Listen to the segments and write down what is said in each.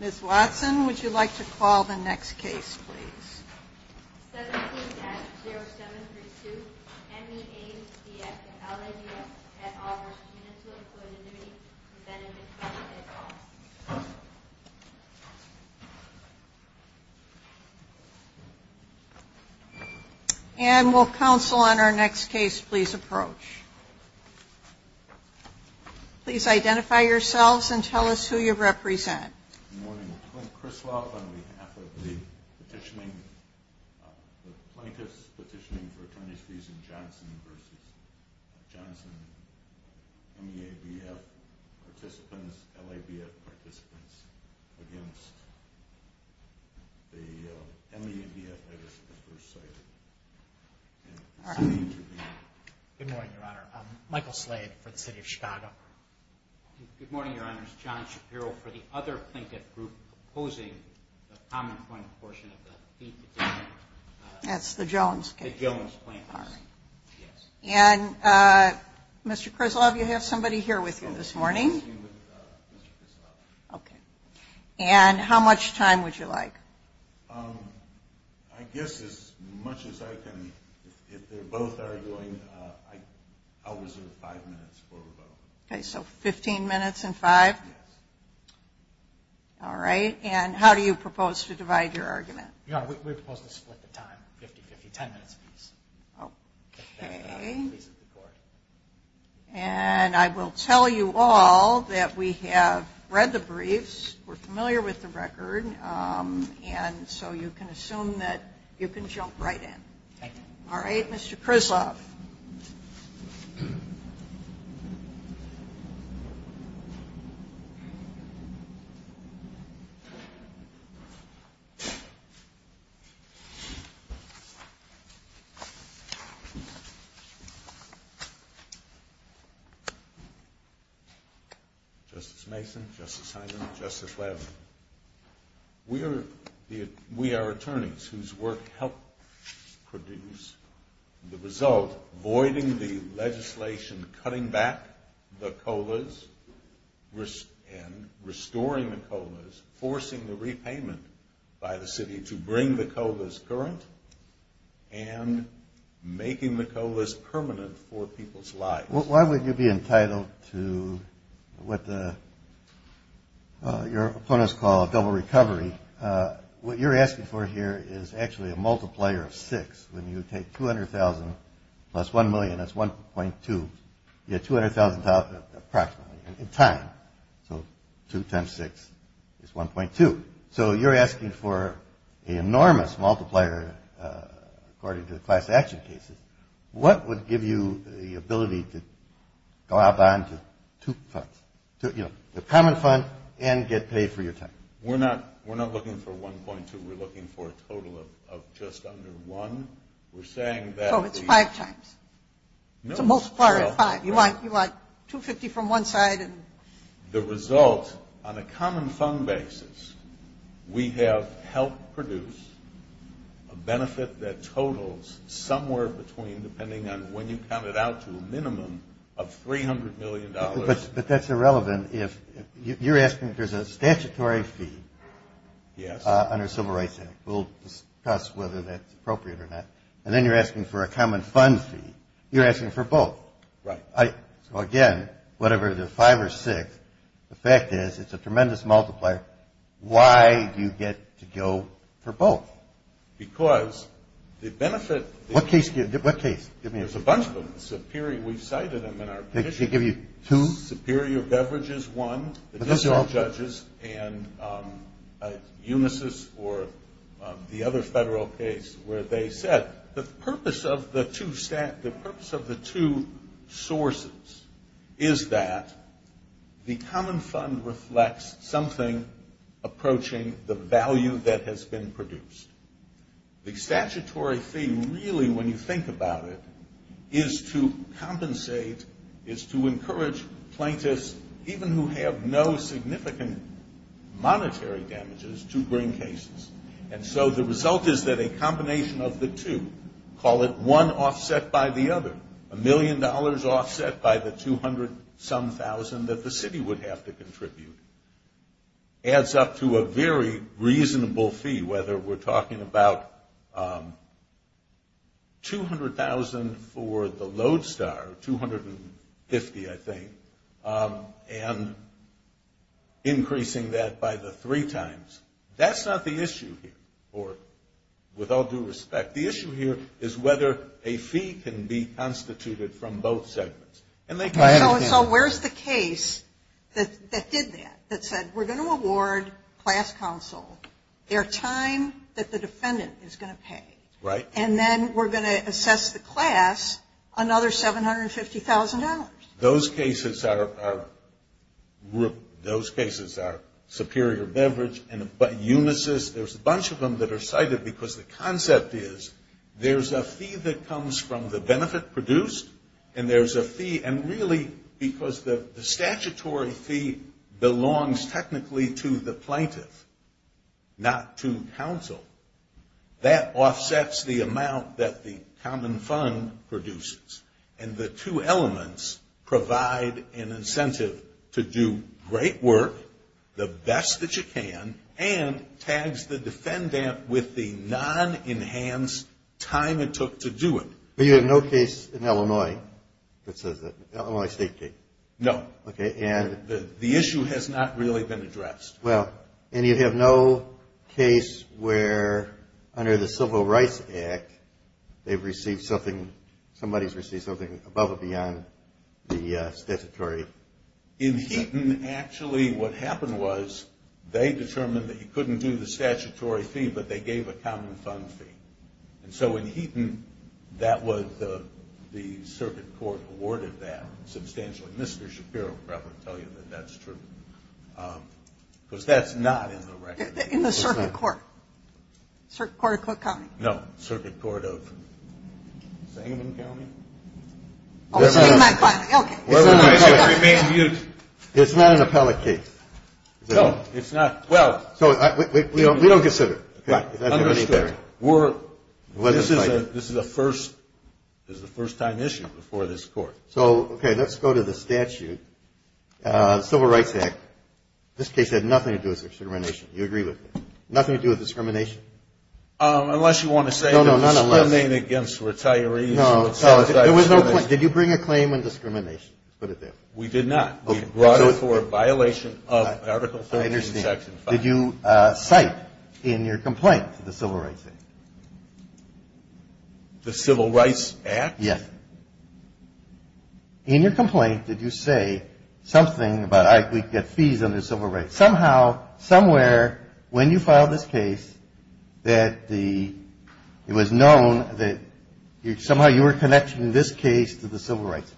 Ms. Watson, would you like to call the next case, please? 17-0732 MEABF & LABF v. Municipal Employees' Annuity & Benefit Fund Anne, will counsel on our next case please approach? Please identify yourselves and tell us who you represent. Good morning. Clint Criswell on behalf of the plaintiffs petitioning for attorney's fees in Johnson v. Johnson. MEABF participants, LABF participants against the MEABF letters that were cited in the interview. Good morning, Your Honor. Michael Slade for the City of Chicago. Good morning, Your Honor. It's John Shapiro for the other Plinkett group opposing the common claim portion of the fee petition. That's the Jones case? The Jones plaintiffs, yes. And Mr. Criswell, do you have somebody here with you this morning? I'm here with Mr. Criswell. Okay. And how much time would you like? I guess as much as I can, if they're both arguing, I'll reserve five minutes for both. Okay, so 15 minutes and five? Yes. All right. And how do you propose to divide your argument? Your Honor, we propose to split the time, 50-50, 10 minutes a piece. Okay. If that pleases the court. And I will tell you all that we have read the briefs, we're familiar with the record, and so you can assume that you can jump right in. All right, Mr. Criswell. Justice Mason, Justice Hyman, Justice Lavin. We are attorneys whose work helps produce the result, voiding the legislation, cutting back the COLAs and restoring the COLAs, forcing the repayment by the city to bring the COLAs current, and making the COLAs permanent for people's lives. Why would you be entitled to what your opponents call a double recovery? What you're asking for here is actually a multiplier of six. When you take 200,000 plus 1 million, that's 1.2. You get 200,000 approximately in time. So two times six is 1.2. So you're asking for an enormous multiplier according to the class action cases. What would give you the ability to go out on to two funds, you know, the common fund and get paid for your time? We're not looking for 1.2. We're looking for a total of just under one. So it's five times. It's a multiplier of five. You want 250 from one side. The result on a common fund basis, we have helped produce a benefit that totals somewhere between, depending on when you count it out, to a minimum of $300 million. But that's irrelevant. You're asking if there's a statutory fee under the Civil Rights Act. We'll discuss whether that's appropriate or not. And then you're asking for a common fund fee. You're asking for both. Right. So, again, whatever the five or six, the fact is it's a tremendous multiplier. Why do you get to go for both? Because the benefit. What case? There's a bunch of them. Superior, we've cited them in our petition. They give you two? Superior Beverages, one, additional judges, and Unisys or the other federal case where they said, the purpose of the two sources is that the common fund reflects something approaching the value that has been produced. The statutory fee, really, when you think about it, is to compensate, is to encourage plaintiffs, even who have no significant monetary damages, to bring cases. And so the result is that a combination of the two, call it one offset by the other, a million dollars offset by the 200-some thousand that the city would have to contribute, adds up to a very reasonable fee, whether we're talking about 200,000 for the Lodestar, 250, I think, and increasing that by the three times. That's not the issue here, with all due respect. The issue here is whether a fee can be constituted from both segments. So where's the case that did that, that said, we're going to award class counsel their time that the defendant is going to pay. Right. And then we're going to assess the class another $750,000. Those cases are superior beverage. There's a bunch of them that are cited because the concept is there's a fee that comes from the benefit produced, and there's a fee, and really, because the statutory fee belongs technically to the plaintiff, not to counsel. That offsets the amount that the common fund produces. And the two elements provide an incentive to do great work, the best that you can, and tags the defendant with the non-enhanced time it took to do it. But you have no case in Illinois that says that, Illinois State case. No. Okay. And the issue has not really been addressed. Well, and you have no case where, under the Civil Rights Act, they've received something, somebody's received something above or beyond the statutory? In Heaton, actually, what happened was they determined that you couldn't do the statutory fee, but they gave a common fund fee. And so in Heaton, that was the circuit court awarded that substantially. But Mr. Shapiro will probably tell you that that's true. Because that's not in the record. In the circuit court? Circuit Court of Cook County? No. Circuit Court of Sangamon County? Oh, Sangamon County. Okay. It's not an appellate case. No, it's not. So we don't consider it. Right. Understood. This is a first-time issue before this court. So, okay, let's go to the statute. Civil Rights Act. This case had nothing to do with discrimination. You agree with me? Nothing to do with discrimination? Unless you want to say it was slandering against retirees. No. There was no claim. Did you bring a claim on discrimination? Let's put it there. We did not. We brought it for a violation of Article 13, Section 5. I understand. Did you cite in your complaint the Civil Rights Act? The Civil Rights Act? Yes. In your complaint, did you say something about, all right, we can get fees under civil rights. Somehow, somewhere, when you filed this case, that it was known that somehow you were connecting this case to the civil rights.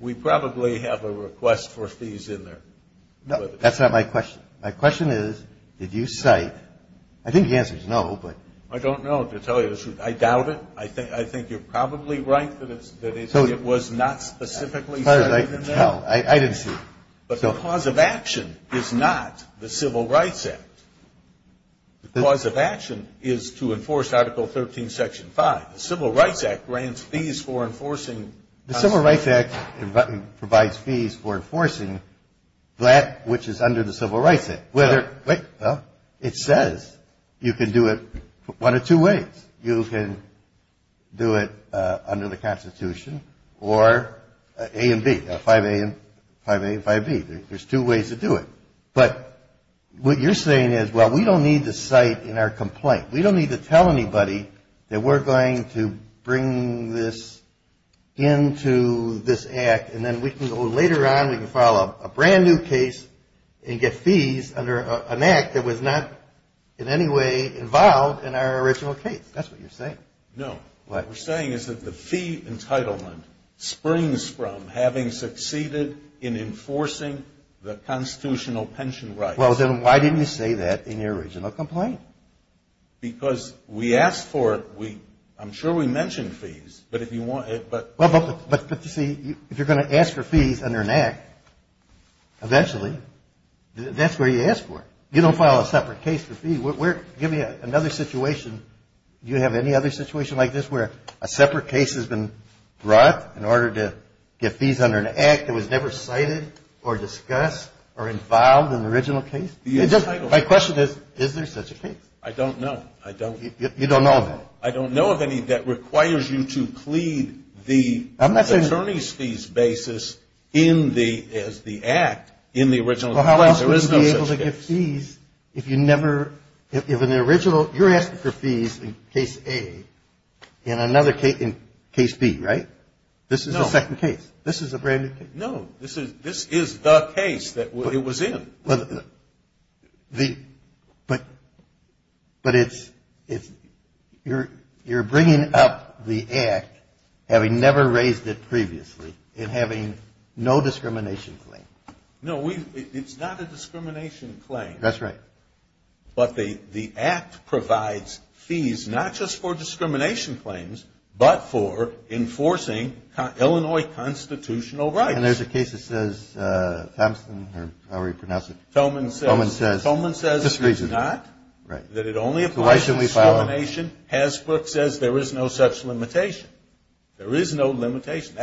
We probably have a request for fees in there. No, that's not my question. My question is, did you cite? I think the answer is no, but. I don't know, to tell you the truth. I doubt it. I think you're probably right that it was not specifically cited in there. No, I didn't see it. But the cause of action is not the Civil Rights Act. The cause of action is to enforce Article 13, Section 5. The Civil Rights Act grants fees for enforcing. The Civil Rights Act provides fees for enforcing that which is under the Civil Rights Act. Well, it says you can do it one of two ways. You can do it under the Constitution or A and B, 5A and 5B. There's two ways to do it. But what you're saying is, well, we don't need to cite in our complaint. We don't need to tell anybody that we're going to bring this into this Act, and then later on we can file a brand-new case and get fees under an Act that was not in any way involved in our original case. That's what you're saying. No. What we're saying is that the fee entitlement springs from having succeeded in enforcing the constitutional pension rights. Well, then why didn't you say that in your original complaint? Because we asked for it. I'm sure we mentioned fees. But if you want to. But, you see, if you're going to ask for fees under an Act, eventually, that's where you ask for it. You don't file a separate case for fees. Give me another situation. Do you have any other situation like this where a separate case has been brought in order to get fees under an Act that was never cited or discussed or involved in the original case? My question is, is there such a case? I don't know. You don't know of it? I don't know of any that requires you to plead the attorney's fees basis as the Act in the original case. Well, how else would you be able to get fees if you never – if in the original – you're asking for fees in Case A and another case – in Case B, right? This is the second case. This is a brand-new case. No. This is the case that it was in. But it's – you're bringing up the Act, having never raised it previously, and having no discrimination claim. No, we – it's not a discrimination claim. That's right. But the Act provides fees not just for discrimination claims, but for enforcing Illinois constitutional rights. And there's a case that says – Thomson, or how do we pronounce it? Thoman says – Thoman says – Just reason. Right. That it only applies to discrimination. Hasbro says there is no such limitation. There is no limitation.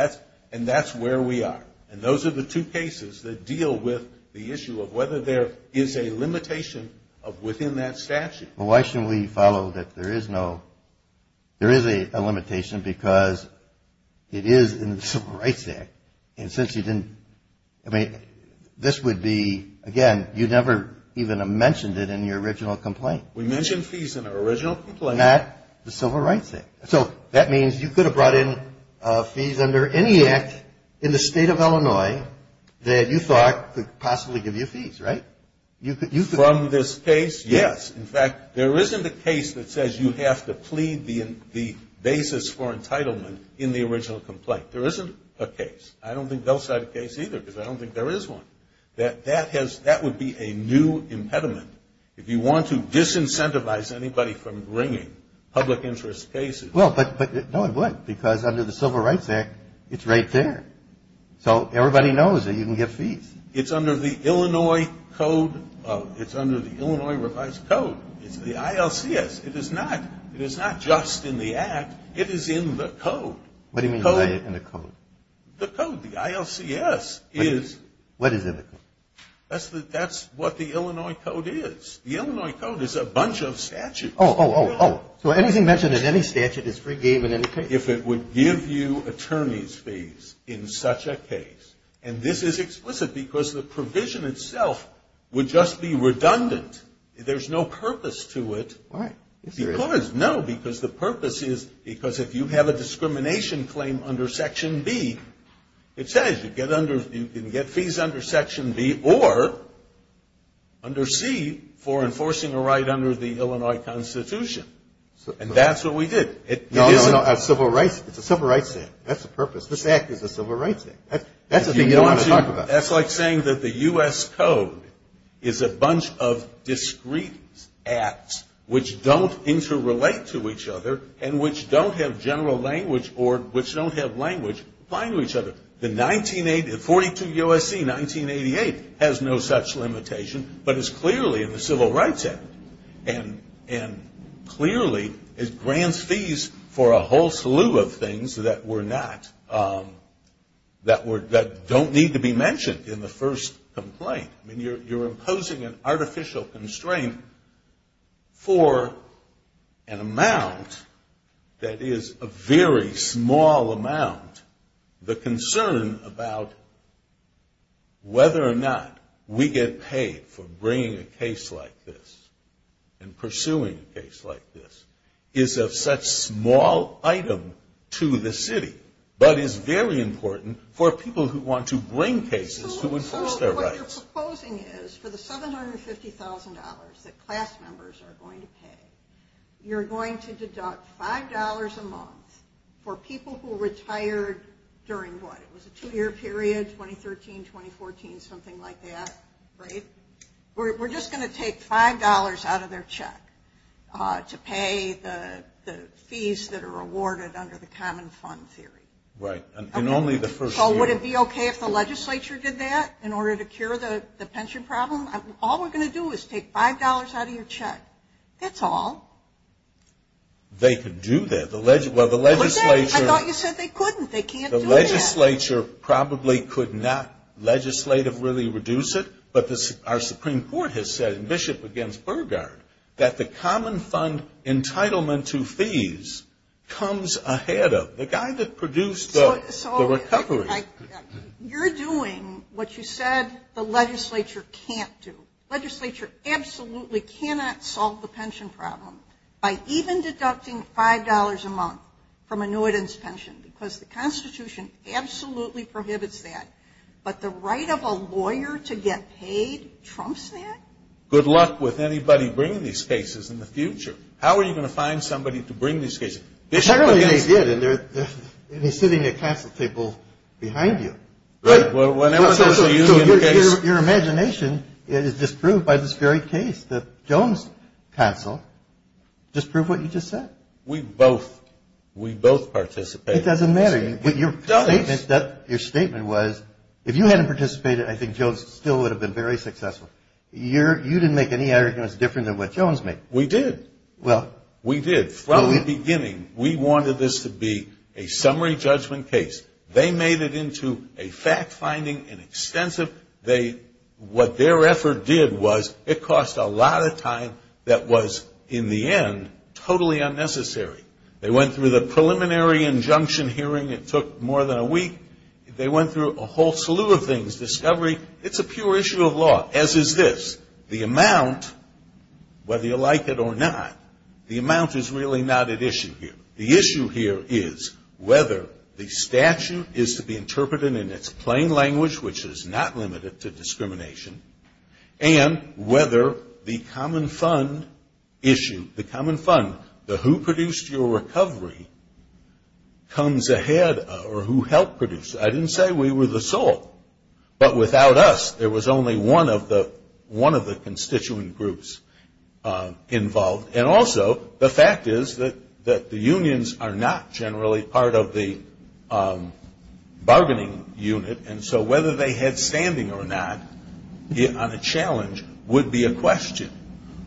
And that's where we are. And those are the two cases that deal with the issue of whether there is a limitation of within that statute. Well, why shouldn't we follow that there is no – there is a limitation because it is in the Civil Rights Act. And since you didn't – I mean, this would be – again, you never even mentioned it in your original complaint. We mentioned fees in our original complaint. Not the Civil Rights Act. So that means you could have brought in fees under any act in the state of Illinois that you thought could possibly give you fees, right? You could – From this case, yes. In fact, there isn't a case that says you have to plead the basis for entitlement in the original complaint. There isn't a case. I don't think they'll cite a case either because I don't think there is one. That has – that would be a new impediment. If you want to disincentivize anybody from bringing public interest cases. Well, but – no, it would. Because under the Civil Rights Act, it's right there. So everybody knows that you can give fees. It's under the Illinois code – it's under the Illinois revised code. It's the ILCS. It is not – it is not just in the act. It is in the code. What do you mean by in the code? The code. The ILCS is – What is in the code? That's what the Illinois code is. The Illinois code is a bunch of statutes. Oh, oh, oh, oh. So anything mentioned in any statute is free game in any case? If it would give you attorney's fees in such a case. And this is explicit because the provision itself would just be redundant. There's no purpose to it. Why? Because – no, because the purpose is because if you have a discrimination claim under Section B, it says you can get fees under Section B or under C for enforcing a right under the Illinois Constitution. And that's what we did. No, no, no. It's a Civil Rights Act. That's the purpose. This act is a Civil Rights Act. That's the thing you don't want to talk about. That's like saying that the U.S. code is a bunch of discrete acts which don't interrelate to each other and which don't have general language or which don't have language applying to each other. The 1942 U.S.C., 1988 has no such limitation, but it's clearly in the Civil Rights Act. And clearly it grants fees for a whole slew of things that were not – that don't need to be mentioned in the first complaint. I mean, you're imposing an artificial constraint for an amount that is a very small amount. The concern about whether or not we get paid for bringing a case like this and pursuing a case like this is of such small item to the city, but is very important for people who want to bring cases to enforce their rights. So what you're proposing is for the $750,000 that class members are going to pay, you're going to deduct $5 a month for people who retired during what? It was a two-year period, 2013, 2014, something like that, right? We're just going to take $5 out of their check to pay the fees that are awarded under the common fund theory. Right, and only the first year. So would it be okay if the legislature did that in order to cure the pension problem? All we're going to do is take $5 out of your check. That's all. They could do that. They can't do that. The legislature probably could not legislatively reduce it, but our Supreme Court has said in Bishop v. Burgard that the common fund entitlement to fees comes ahead of. The guy that produced the recovery. You're doing what you said the legislature can't do. Legislature absolutely cannot solve the pension problem by even deducting $5 a month from annuitants' pension because the Constitution absolutely prohibits that. But the right of a lawyer to get paid trumps that? Good luck with anybody bringing these cases in the future. How are you going to find somebody to bring these cases? They did, and he's sitting at council table behind you. Right. Whenever there's a union case. Your imagination is disproved by this very case, the Jones Council. Disprove what you just said. We both participated. It doesn't matter. Your statement was if you hadn't participated, I think Jones still would have been very successful. You didn't make any arguments different than what Jones made. We did. Well, we did. From the beginning, we wanted this to be a summary judgment case. They made it into a fact-finding and extensive. What their effort did was it cost a lot of time that was, in the end, totally unnecessary. They went through the preliminary injunction hearing. It took more than a week. They went through a whole slew of things, discovery. It's a pure issue of law, as is this. The amount, whether you like it or not, the amount is really not at issue here. The issue here is whether the statute is to be interpreted in its plain language, which is not limited to discrimination, and whether the common fund issue, the common fund, the who produced your recovery comes ahead or who helped produce it. I didn't say we were the sole, but without us, there was only one of the constituent groups involved. And also, the fact is that the unions are not generally part of the bargaining unit, and so whether they had standing or not on a challenge would be a question.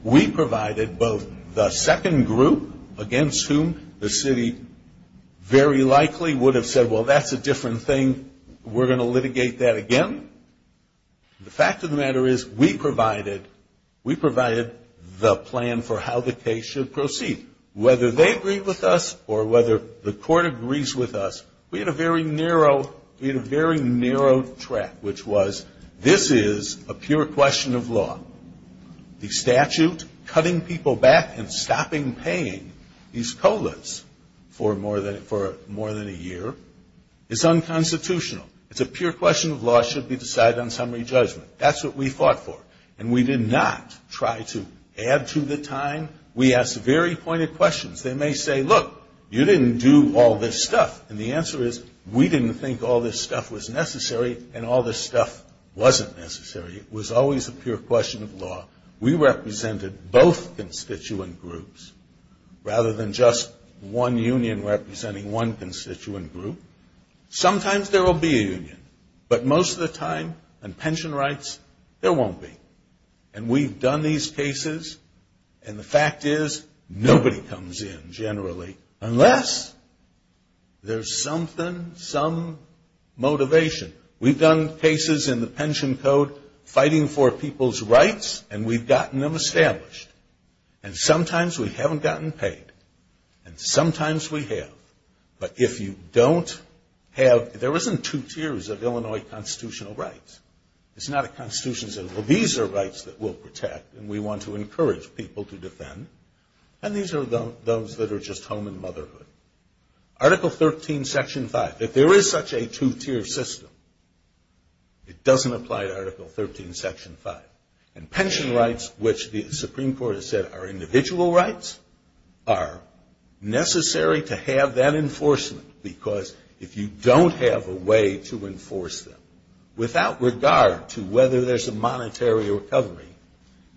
We provided both the second group, against whom the city very likely would have said, well, that's a different thing. We're going to litigate that again. The fact of the matter is we provided the plan for how the case should proceed. Whether they agree with us or whether the court agrees with us, we had a very narrow track, which was this is a pure question of law. The statute cutting people back and stopping paying these COLAs for more than a year is unconstitutional. It's a pure question of law should be decided on summary judgment. That's what we fought for. And we did not try to add to the time. We asked very pointed questions. They may say, look, you didn't do all this stuff. And the answer is we didn't think all this stuff was necessary and all this stuff wasn't necessary. It was always a pure question of law. We represented both constituent groups rather than just one union representing one constituent group. Sometimes there will be a union, but most of the time on pension rights, there won't be. And we've done these cases, and the fact is nobody comes in generally unless there's something, some motivation. We've done cases in the pension code fighting for people's rights, and we've gotten them established. And sometimes we haven't gotten paid, and sometimes we have. But if you don't have, there isn't two tiers of Illinois constitutional rights. It's not a constitution saying, well, these are rights that we'll protect, and we want to encourage people to defend. And these are those that are just home and motherhood. Article 13, Section 5. If there is such a two-tier system, it doesn't apply to Article 13, Section 5. And pension rights, which the Supreme Court has said are individual rights, are necessary to have that enforcement. Because if you don't have a way to enforce them, without regard to whether there's a monetary recovery,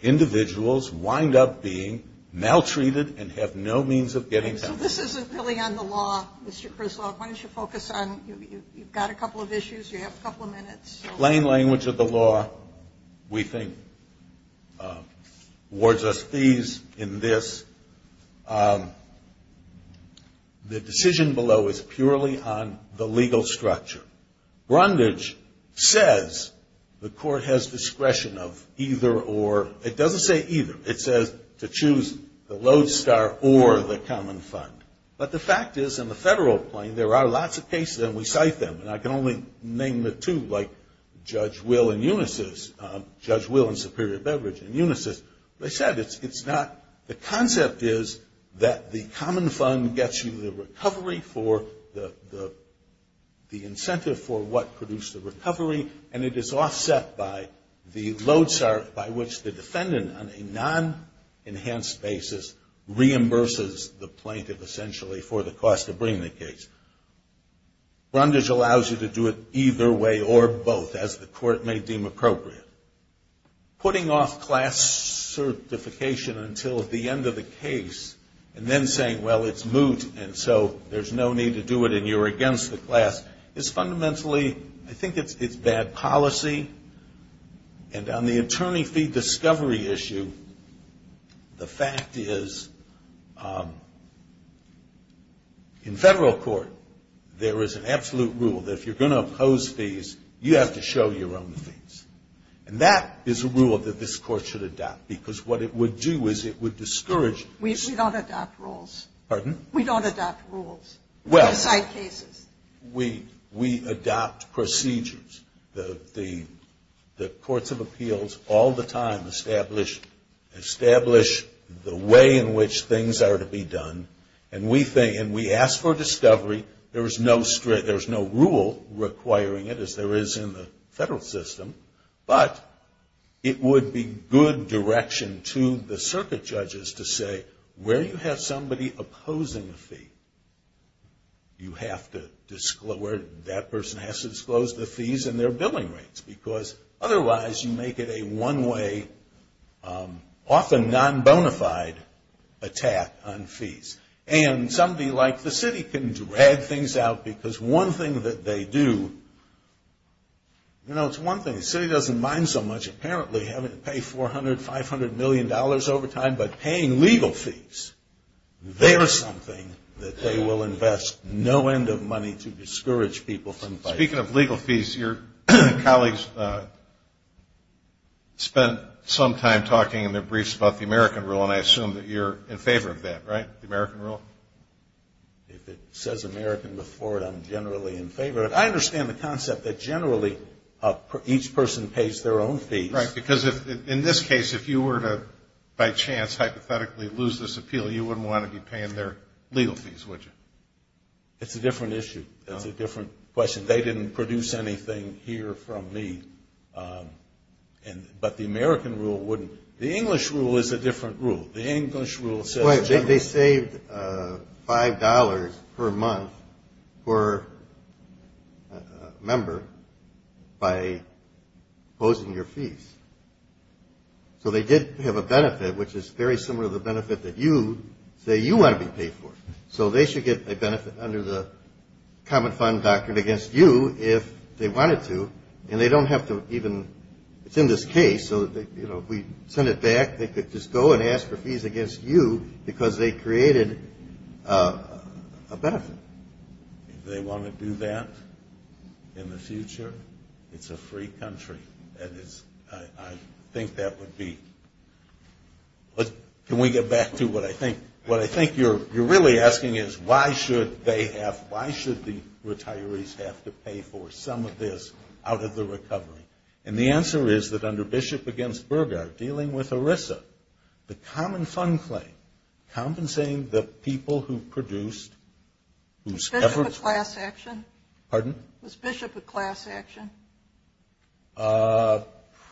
individuals wind up being maltreated and have no means of getting help. So this isn't really on the law, Mr. Krizlog. Why don't you focus on, you've got a couple of issues, you have a couple of minutes. Plain language of the law, we think, awards us fees in this. The decision below is purely on the legal structure. Brundage says the court has discretion of either or. It doesn't say either. It says to choose the lodestar or the common fund. But the fact is, in the federal plane, there are lots of cases, and we cite them. And I can only name the two, like Judge Will and Unisys. Judge Will and Superior Beverage and Unisys. They said it's not, the concept is that the common fund gets you the recovery for the incentive for what produced the recovery, and it is offset by the lodestar, by which the defendant, on a non-enhanced basis, reimburses the plaintiff, essentially, for the cost of bringing the case. Brundage allows you to do it either way or both, as the court may deem appropriate. Putting off class certification until the end of the case, and then saying, well, it's moot, and so there's no need to do it and you're against the class, is fundamentally, I think it's bad policy. And on the attorney fee discovery issue, the fact is, in federal court, there is an absolute rule that if you're going to oppose fees, you have to show your own fees. And that is a rule that this court should adopt, because what it would do is it would discourage. We don't adopt rules. Pardon? We don't adopt rules. Well. We cite cases. We adopt procedures. The courts of appeals all the time establish the way in which things are to be done, and we think, and we ask for discovery. There's no rule requiring it, as there is in the federal system, but it would be good direction to the circuit judges to say, where you have somebody opposing a fee, you have to disclose, that person has to disclose the fees and their billing rates, because otherwise you make it a one-way, often non-bonafide attack on fees. And somebody like the city can drag things out, because one thing that they do, you know, it's one thing. The city doesn't mind so much apparently having to pay $400 million, $500 million over time, but paying legal fees, they're something that they will invest no end of money to discourage people from fighting. Speaking of legal fees, your colleagues spent some time talking in their briefs about the American rule, and I assume that you're in favor of that, right, the American rule? If it says American before it, I'm generally in favor of it. I understand the concept that generally each person pays their own fees. Right, because in this case, if you were to, by chance, hypothetically lose this appeal, you wouldn't want to be paying their legal fees, would you? It's a different issue. It's a different question. They didn't produce anything here from me. But the American rule wouldn't. The English rule is a different rule. The English rule says generally. They saved $5 per month per member by opposing your fees. So they did have a benefit, which is very similar to the benefit that you say you want to be paid for. So they should get a benefit under the common fund doctrine against you if they wanted to, and they don't have to even – it's in this case. So, you know, if we send it back, they could just go and ask for fees against you because they created a benefit. If they want to do that in the future, it's a free country, and I think that would be – Can we get back to what I think – what I think you're really asking is why should they have – why should the retirees have to pay for some of this out of the recovery? And the answer is that under Bishop against Burghardt, dealing with ERISA, the common fund claim compensating the people who produced – Was Bishop a class action? Pardon? Was Bishop a class action?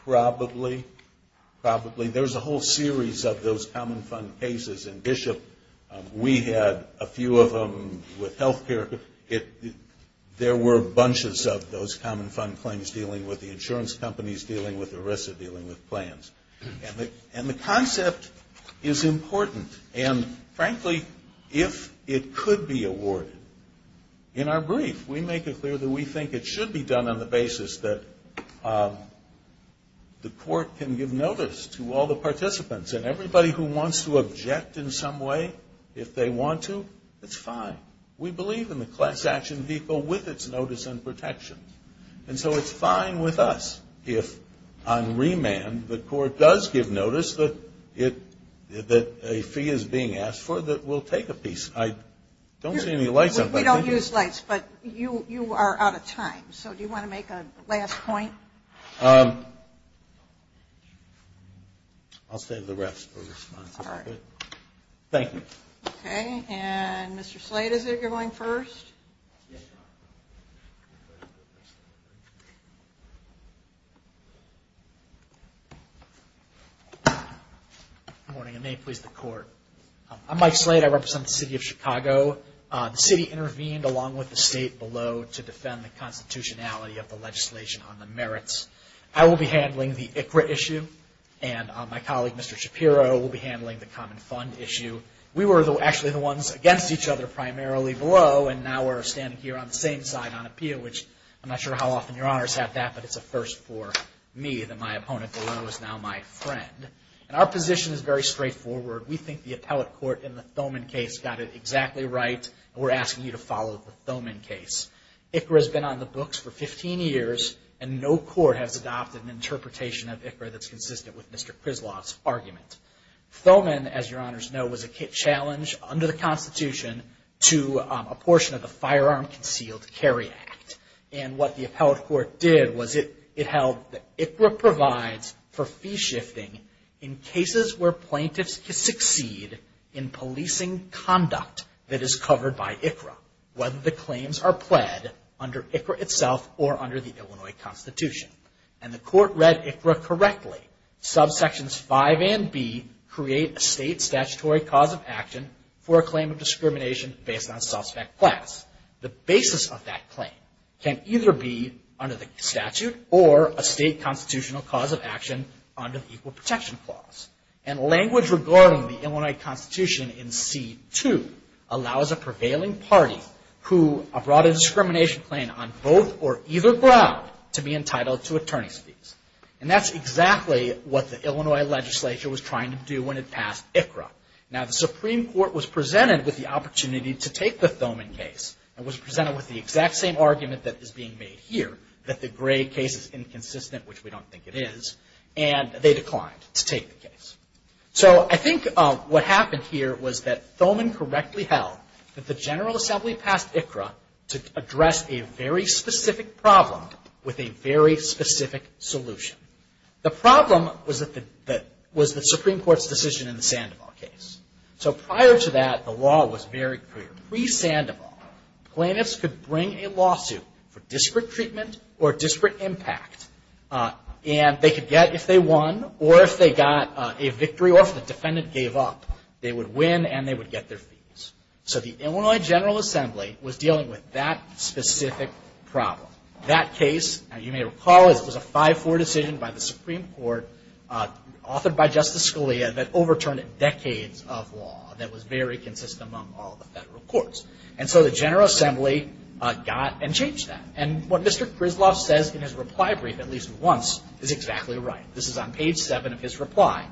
Probably. Probably. There's a whole series of those common fund cases in Bishop. We had a few of them with health care. There were bunches of those common fund claims dealing with the insurance companies, dealing with ERISA, dealing with plans. And the concept is important, and frankly, if it could be awarded, in our brief, we make it clear that we think it should be done on the basis that the court can give notice to all the participants. And everybody who wants to object in some way, if they want to, it's fine. We believe in the class action vehicle with its notice and protection. And so it's fine with us if on remand the court does give notice that a fee is being asked for, that we'll take a piece. I don't see any lights up. We don't use lights, but you are out of time. So do you want to make a last point? I'll save the rest for response. All right. Thank you. Okay. And Mr. Slate, is it you're going first? Good morning, and may it please the Court. I'm Mike Slate. I represent the City of Chicago. The city intervened along with the state below to defend the constitutionality of the legislation on the merits. I will be handling the ICRA issue, and my colleague, Mr. Shapiro, will be handling the common fund issue. We were actually the ones against each other primarily below, and now we're standing here on the same side on appeal, which I'm not sure how often your honors have that, but it's a first for me that my opponent below is now my friend. And our position is very straightforward. We think the appellate court in the Thoman case got it exactly right, and we're asking you to follow the Thoman case. ICRA has been on the books for 15 years, and no court has adopted an interpretation of ICRA that's consistent with Mr. Krizlov's argument. Thoman, as your honors know, was a challenge under the constitution to a portion of the Firearm Concealed Carry Act. And what the appellate court did was it held that ICRA provides for fee shifting in cases where plaintiffs succeed in policing conduct that is covered by ICRA, whether the claims are pled under ICRA itself or under the Illinois Constitution. And the court read ICRA correctly. Subsections 5 and B create a state statutory cause of action for a claim of discrimination based on suspect class. The basis of that claim can either be under the statute or a state constitutional cause of action under the Equal Protection Clause. And language regarding the Illinois Constitution in C2 allows a prevailing party who brought a discrimination claim on both or either ground to be entitled to attorney's fees. And that's exactly what the Illinois legislature was trying to do when it passed ICRA. Now, the Supreme Court was presented with the opportunity to take the Thoman case, and was presented with the exact same argument that is being made here, that the Gray case is inconsistent, which we don't think it is, and they declined to take the case. So I think what happened here was that Thoman correctly held that the General Assembly passed ICRA to address a very specific problem with a very specific solution. The problem was the Supreme Court's decision in the Sandoval case. So prior to that, the law was very clear. Pre-Sandoval, plaintiffs could bring a lawsuit for disparate treatment or disparate impact, and they could get, if they won or if they got a victory or if the defendant gave up, they would win and they would get their fees. So the Illinois General Assembly was dealing with that specific problem. That case, you may recall, was a 5-4 decision by the Supreme Court, authored by Justice Scalia, that overturned decades of law that was very consistent among all the federal courts. And so the General Assembly got and changed that. And what Mr. Griswold says in his reply brief at least once is exactly right. This is on page 7 of his reply.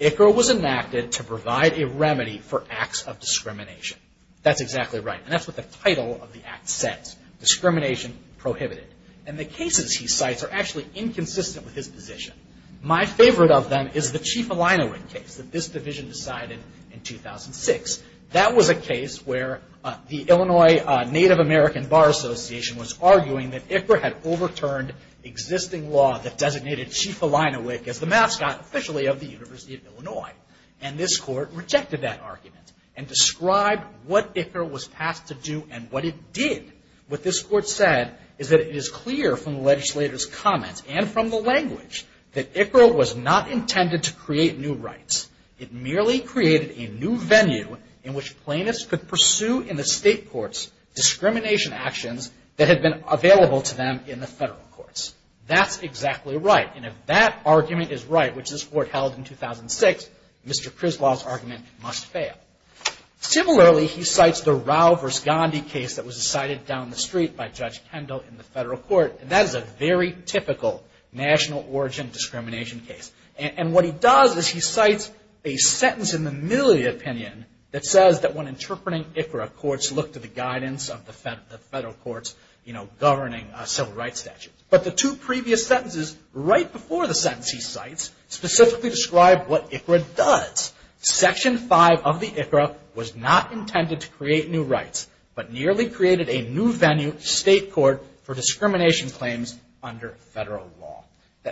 ICRA was enacted to provide a remedy for acts of discrimination. That's exactly right, and that's what the title of the act says, discrimination prohibited. And the cases he cites are actually inconsistent with his position. My favorite of them is the Chief Elinowick case that this division decided in 2006. That was a case where the Illinois Native American Bar Association was arguing that ICRA had overturned existing law that designated Chief Elinowick as the mascot officially of the University of Illinois. And this Court rejected that argument and described what ICRA was passed to do and what it did. What this Court said is that it is clear from the legislator's comments and from the language that ICRA was not intended to create new rights. It merely created a new venue in which plaintiffs could pursue in the state courts discrimination actions that had been available to them in the federal courts. That's exactly right, and if that argument is right, which this Court held in 2006, Mr. Griswold's argument must fail. Similarly, he cites the Rao v. Gandhi case that was decided down the street by Judge Kendall in the federal court, and that is a very typical national origin discrimination case. And what he does is he cites a sentence in the middle of the opinion that says that when interpreting ICRA, courts look to the guidance of the federal courts governing civil rights statutes. But the two previous sentences right before the sentence he cites specifically describe what ICRA does. Section 5 of the ICRA was not intended to create new rights, but merely created a new venue, state court, for discrimination claims under federal law.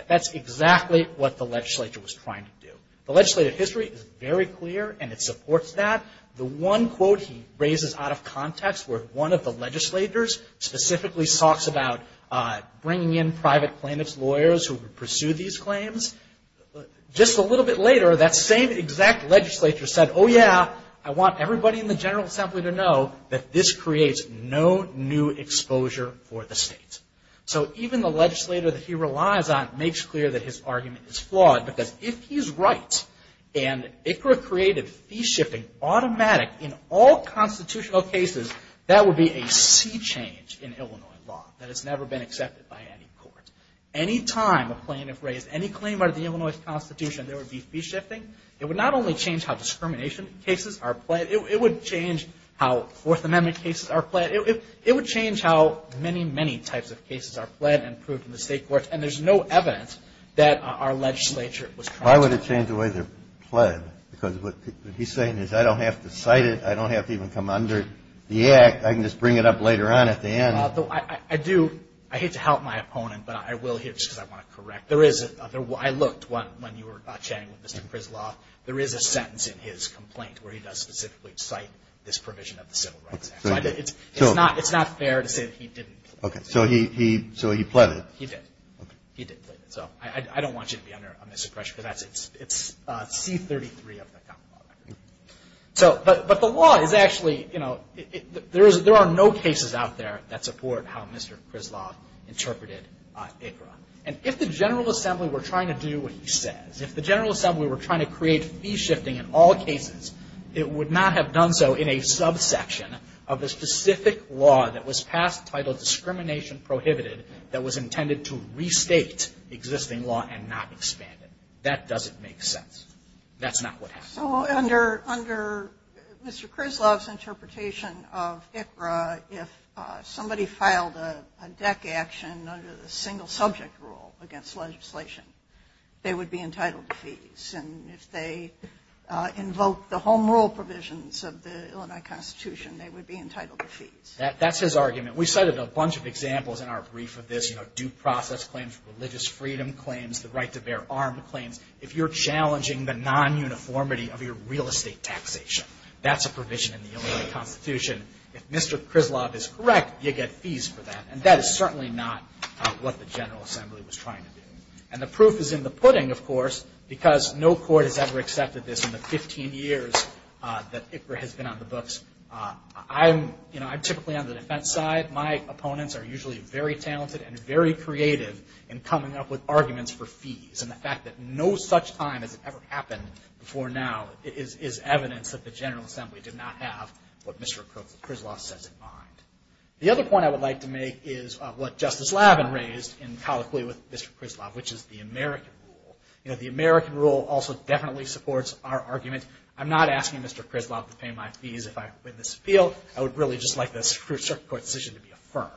That's exactly what the legislature was trying to do. The legislative history is very clear, and it supports that. The one quote he raises out of context where one of the legislators specifically talks about bringing in private plaintiffs' lawyers who would pursue these claims. Just a little bit later, that same exact legislature said, oh yeah, I want everybody in the General Assembly to know that this creates no new exposure for the state. So even the legislator that he relies on makes clear that his argument is flawed, because if he's right and ICRA created fee-shifting automatic in all constitutional cases, that would be a sea change in Illinois law. That has never been accepted by any court. Any time a plaintiff raised any claim under the Illinois Constitution, there would be fee-shifting. It would not only change how discrimination cases are pledged. It would change how Fourth Amendment cases are pledged. It would change how many, many types of cases are pledged and approved in the state courts. And there's no evidence that our legislature was trying to do that. Why would it change the way they're pledged? Because what he's saying is I don't have to cite it. I don't have to even come under the act. I can just bring it up later on at the end. I hate to help my opponent, but I will here just because I want to correct. I looked when you were chatting with Mr. Krizloff. There is a sentence in his complaint where he does specifically cite this provision of the Civil Rights Act. It's not fair to say that he didn't. Okay, so he pled it. He did. He did pledge it. So I don't want you to be under a misapprehension, because it's C-33 of the Commonwealth Act. But the law is actually, you know, there are no cases out there that support how Mr. Krizloff interpreted ICRA. And if the General Assembly were trying to do what he says, if the General Assembly were trying to create fee shifting in all cases, it would not have done so in a subsection of the specific law that was passed titled Discrimination Prohibited that was intended to restate existing law and not expand it. That doesn't make sense. That's not what happened. So under Mr. Krizloff's interpretation of ICRA, if somebody filed a deck action under the single subject rule against legislation, they would be entitled to fees. And if they invoked the home rule provisions of the Illinois Constitution, they would be entitled to fees. That's his argument. We cited a bunch of examples in our brief of this, you know, due process claims, religious freedom claims, the right to bear armed claims. If you're challenging the non-uniformity of your real estate taxation, that's a provision in the Illinois Constitution. If Mr. Krizloff is correct, you get fees for that. And that is certainly not what the General Assembly was trying to do. And the proof is in the pudding, of course, because no court has ever accepted this in the 15 years that ICRA has been on the books. I'm, you know, I'm typically on the defense side. My opponents are usually very talented and very creative in coming up with arguments for fees. And the fact that no such time has ever happened before now is evidence that the General Assembly did not have what Mr. Krizloff sets in mind. The other point I would like to make is what Justice Lavin raised in colloquy with Mr. Krizloff, which is the American rule. You know, the American rule also definitely supports our argument. I'm not asking Mr. Krizloff to pay my fees if I win this appeal. I would really just like the circuit court decision to be affirmed.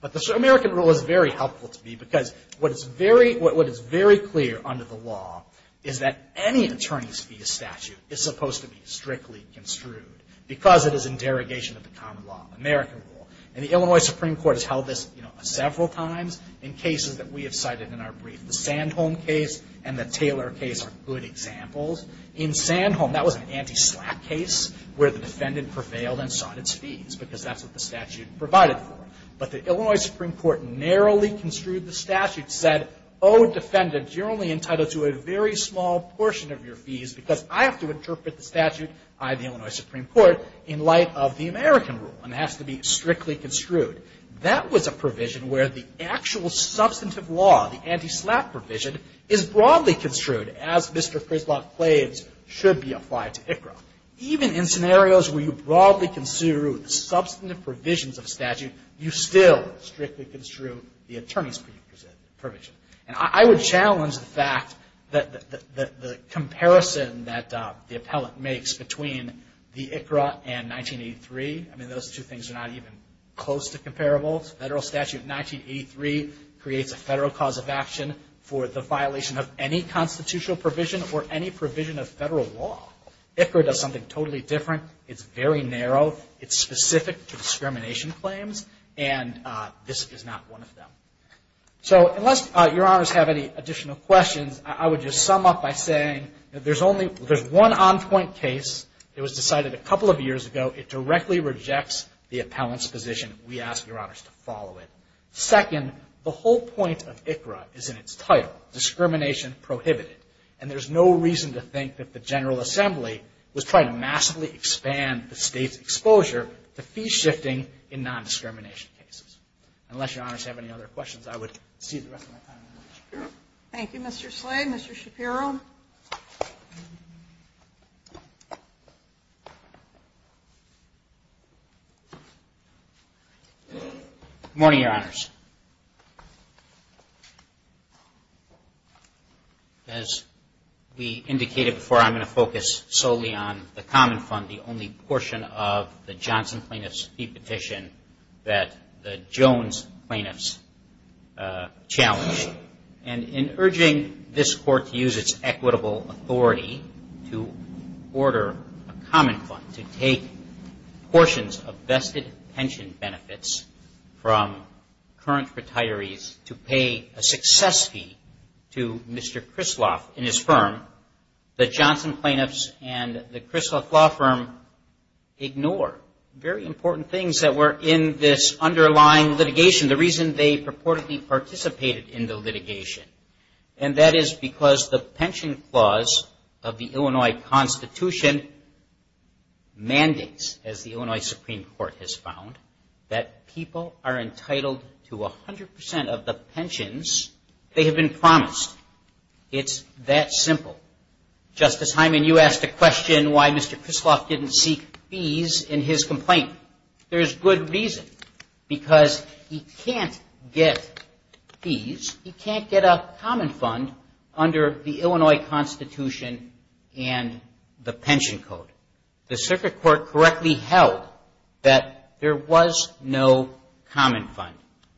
But the American rule is very helpful to me because what is very clear under the law is that any attorney's fee statute is supposed to be strictly construed because it is in derogation of the common law, American rule. And the Illinois Supreme Court has held this, you know, several times in cases that we have cited in our brief. The Sandholm case and the Taylor case are good examples. In Sandholm, that was an anti-slap case where the defendant prevailed and sought its fees because that's what the statute provided for. But the Illinois Supreme Court narrowly construed the statute, said, oh, defendant, you're only entitled to a very small portion of your fees because I have to interpret the statute by the Illinois Supreme Court in light of the American rule, and it has to be strictly construed. That was a provision where the actual substantive law, the anti-slap provision, is broadly construed as Mr. Krizloff claims should be applied to ICRA. Even in scenarios where you broadly construe substantive provisions of a statute, you still strictly construe the attorney's fee provision. And I would challenge the fact that the comparison that the appellant makes between the ICRA and 1983, I mean, those two things are not even close to comparable. Federal statute 1983 creates a federal cause of action for the violation of any constitutional provision or any provision of federal law. ICRA does something totally different. It's very narrow. It's specific to discrimination claims, and this is not one of them. So unless Your Honors have any additional questions, I would just sum up by saying that there's one on-point case that was decided a couple of years ago. It directly rejects the appellant's position. We ask Your Honors to follow it. Second, the whole point of ICRA is in its title, discrimination prohibited. And there's no reason to think that the General Assembly was trying to massively expand the State's exposure to fee shifting in nondiscrimination cases. Unless Your Honors have any other questions, I would seize the rest of my time. Thank you, Mr. Slade. Mr. Shapiro. Good morning, Your Honors. As we indicated before, I'm going to focus solely on the common fund, the only portion of the Johnson plaintiff's fee petition that the Jones plaintiff's challenged. And in urging this Court to use its equitable authority to order a common fund to take portions of vested pension benefits from current retirees to pay a success fee to Mr. Krisloff and his firm, the Johnson plaintiffs and the Krisloff law firm ignore very important things that were in this underlying litigation, the reason they purportedly participated in the litigation. And that is because the pension clause of the Illinois Constitution mandates, as the Illinois Supreme Court has found, that people are entitled to 100% of the pensions they have been promised. It's that simple. Justice Hyman, you asked a question why Mr. Krisloff didn't seek fees in his complaint. There's good reason, because he can't get fees, he can't get a common fund under the Illinois Constitution and the pension code. The circuit court correctly held that there was no common fund.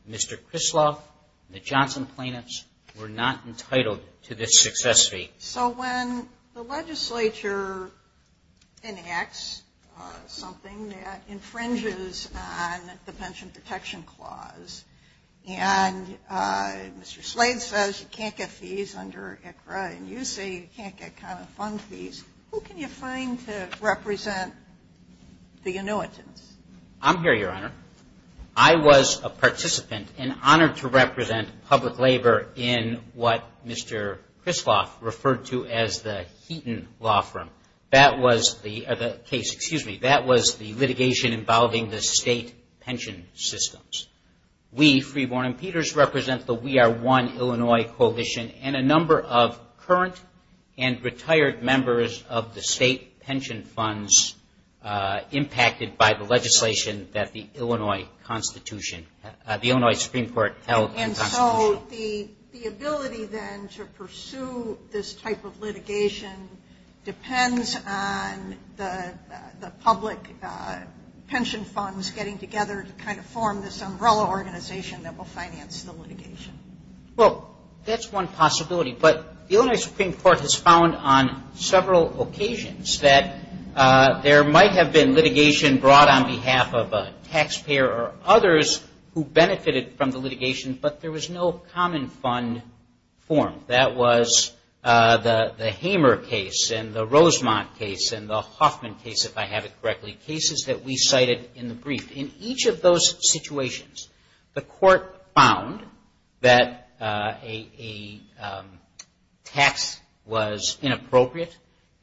Mr. Krisloff and the Johnson plaintiffs were not entitled to this success fee. So when the legislature enacts something that infringes on the pension protection clause, and Mr. Slade says you can't get fees under ICRA and you say you can't get common fund fees, who can you find to represent the annuitants? I'm here, Your Honor. I was a participant and honored to represent public labor in what Mr. Krisloff referred to as the Heaton law firm. That was the case, excuse me, that was the litigation involving the state pension systems. We, Freeborn and Peters, represent the We Are One Illinois Coalition and a number of current and retired members of the state pension funds impacted by the legislation that the Illinois Supreme Court held in the Constitution. And so the ability then to pursue this type of litigation depends on the public participation and the pension funds getting together to kind of form this umbrella organization that will finance the litigation. Well, that's one possibility, but the Illinois Supreme Court has found on several occasions that there might have been litigation brought on behalf of a taxpayer or others who benefited from the litigation, but there was no common fund form. That was the Hamer case and the Rosemont case and the Hoffman case, if I have it correctly, cases that we cited in the brief. In each of those situations, the court found that a tax was inappropriate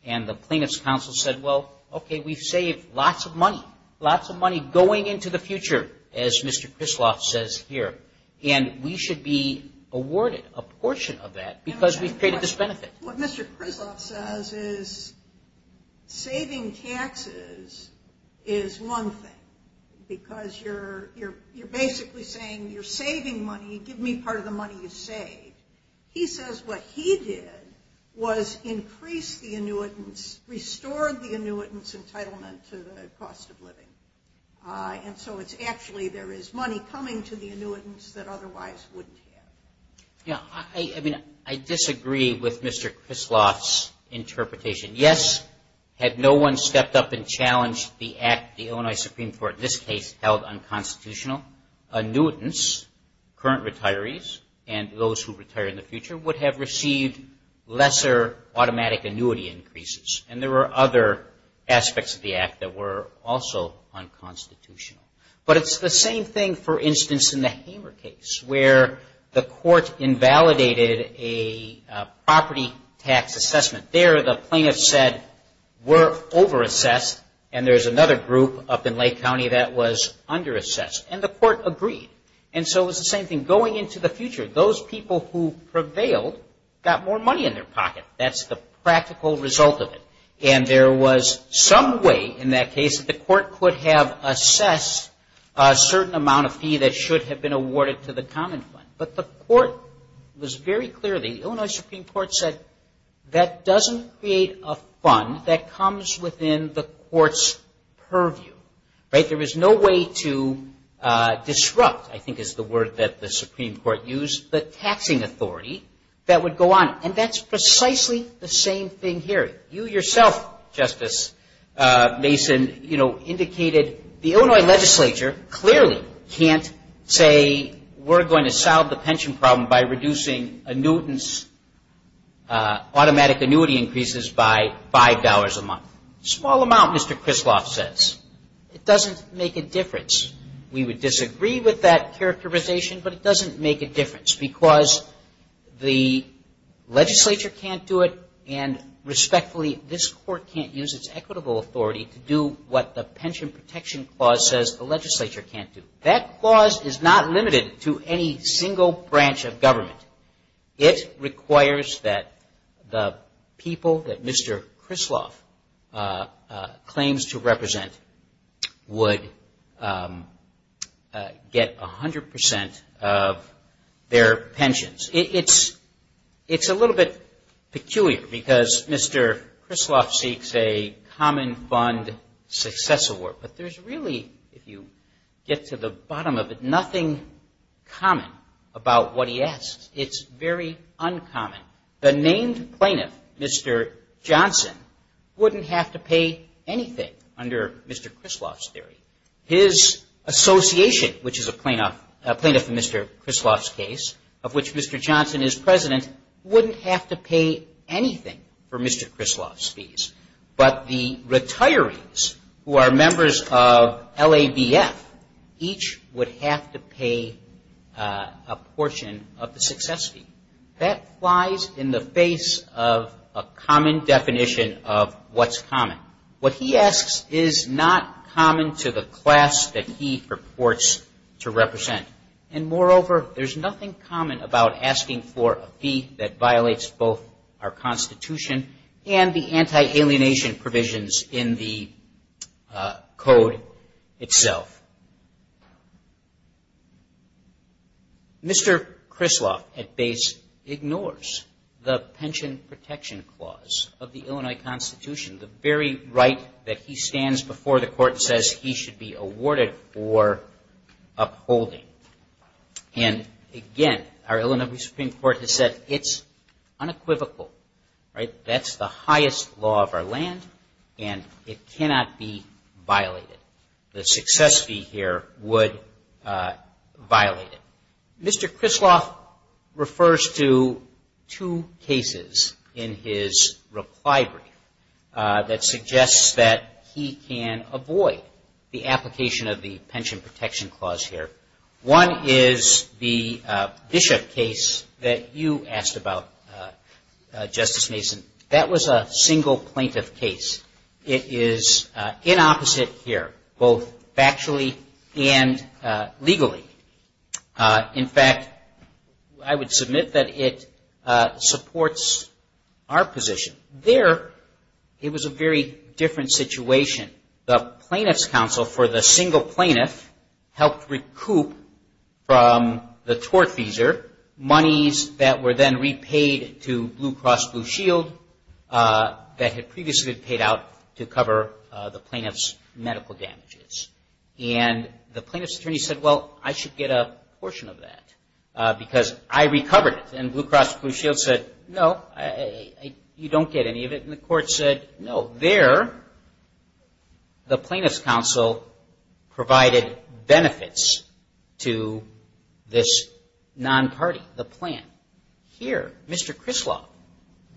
and the plaintiff's counsel said, well, okay, we've saved lots of money, lots of money going into the future, as Mr. Krisloff says here, and we should be awarded a portion of that because we've created this benefit. What Mr. Krisloff says is saving taxes is one thing because you're basically saying you're saving money, give me part of the money you save. He says what he did was increase the annuitants, restored the annuitants entitlement to the cost of living. And so it's actually there is money coming to the annuitants that otherwise wouldn't have. I mean, I disagree with Mr. Krisloff's interpretation. Yes, had no one stepped up and challenged the act, the Illinois Supreme Court in this case held unconstitutional, annuitants, current retirees and those who retire in the future would have received lesser automatic annuity increases. And there were other aspects of the act that were also unconstitutional. But it's the same thing, for instance, in the Hamer case where the court invalidated a property tax assessment. There the plaintiff said we're overassessed and there's another group up in Lake County that was underassessed. And the court agreed. And so it was the same thing going into the future. Those people who prevailed got more money in their pocket. That's the practical result of it. And there was some way in that case that the court could have assessed a certain amount of fee that should have been awarded to the common fund. But the court was very clear, the Illinois Supreme Court said that doesn't create a fund that comes within the court's purview. There is no way to disrupt, I think is the word that the Supreme Court used, the taxing authority that would go on. And that's precisely the same thing here. You yourself, Justice Mason, indicated the Illinois legislature clearly can't say we're going to salvage the pension problem by reducing annuitants, automatic annuity increases by $5 a month. A small amount, Mr. Krisloff says. It doesn't make a difference. We would disagree with that characterization, but it doesn't make a difference because the legislature can't do it. And respectfully, this court can't use its equitable authority to do what the Pension Protection Clause says the federal branch of government. It requires that the people that Mr. Krisloff claims to represent would get 100% of their pensions. It's a little bit peculiar because Mr. Krisloff seeks a common fund success award. But there's really, if you get to the bottom of it, nothing common about what he asks. It's very uncommon. The named plaintiff, Mr. Johnson, wouldn't have to pay anything under Mr. Krisloff's theory. His association, which is a plaintiff in Mr. Krisloff's case, of which Mr. Johnson is president, wouldn't have to pay anything for Mr. Krisloff's fees. But the retirees who are members of the LAVF, each would have to pay a portion of the success fee. That flies in the face of a common definition of what's common. What he asks is not common to the class that he purports to represent. And moreover, there's nothing common about asking for a fee that violates both our Constitution and the anti-alienation provisions in the Code itself. Mr. Krisloff, at base, ignores the Pension Protection Clause of the Illinois Constitution, the very right that he stands before the Court and says he should be awarded for upholding. And again, our Illinois Supreme Court has said it's unequivocal, right? That's the highest law of our land, and it's unequivocal. It cannot be violated. The success fee here would violate it. Mr. Krisloff refers to two cases in his reply brief that suggests that he can avoid the application of the Pension Protection Clause here. One is the Bishop case that you asked about, Justice Mason. That was a single plaintiff case. It is inopposite here, both factually and legally. In fact, I would submit that it supports our position. There, it was a very different situation. The Plaintiff's Counsel for the single plaintiff helped recoup from the tortfeasor monies that were then repaid to Blue Cross Blue Shield that had previously been paid to cover the plaintiff's medical damages. And the plaintiff's attorney said, well, I should get a portion of that because I recovered it. And Blue Cross Blue Shield said, no, you don't get any of it. And the Court said, no. There, the Plaintiff's Counsel provided benefits to this non-party, the plaintiff. Here, Mr. Krisloff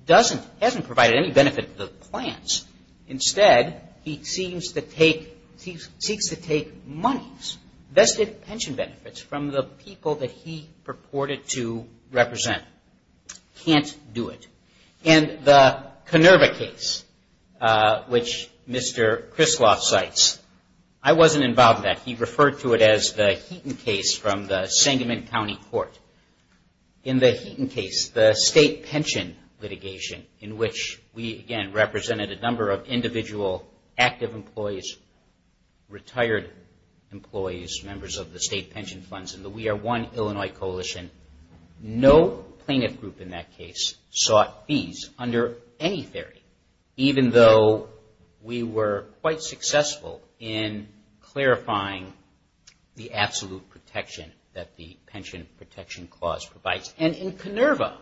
doesn't, hasn't provided any benefit to the clients. Instead, he seems to take, seeks to take monies, vested pension benefits from the people that he purported to represent. Can't do it. And the Kenerva case, which Mr. Krisloff cites, I wasn't involved in that. He referred to it as the Heaton case from the Sangamon County Court. In the Heaton case, the state pension litigation in which we, again, represented a number of individual active employees, retired employees, members of the state pension funds in the We Are One Illinois Coalition. No plaintiff group in that case sought fees under any theory, even though we were quite successful in clarifying the absolute protection that the Pension Protection Clause provides. And in Kenerva,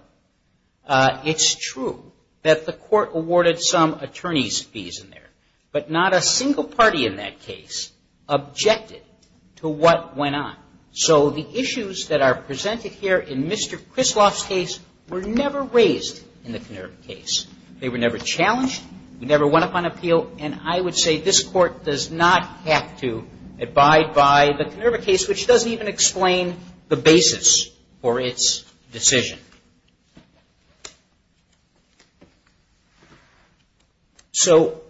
it's true that the Court awarded some attorney's fees in there, but not a single party in that case objected to what went on. So the issues that are presented here in Mr. Krisloff's case were never raised in the Kenerva case. They were never challenged. We never went up on appeal. And I would say this Court does not have to abide by the Kenerva case, which doesn't even explain the basis for its decision. So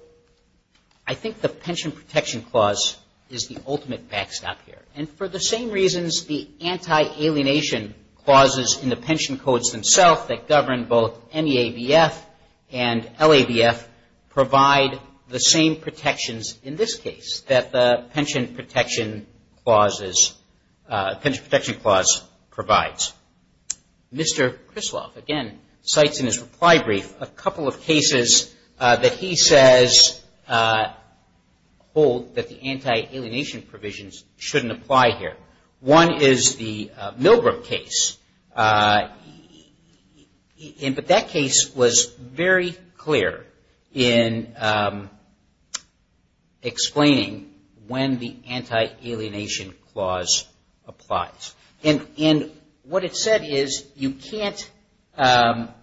I think the Pension Protection Clause is the ultimate backstop here. And for the same reasons, the anti-alienation clauses in the pension codes themselves that govern both NEABF and LABF provide the same protections in this case that the Pension Protection Clause provides. Mr. Krisloff, again, cites in his reply brief a couple of cases that he says hold that the anti-alienation provisions shouldn't apply here. One is the Milgram case, but that case was very clear in explaining when the anti-alienation clause applies. And what it said is you can't, and there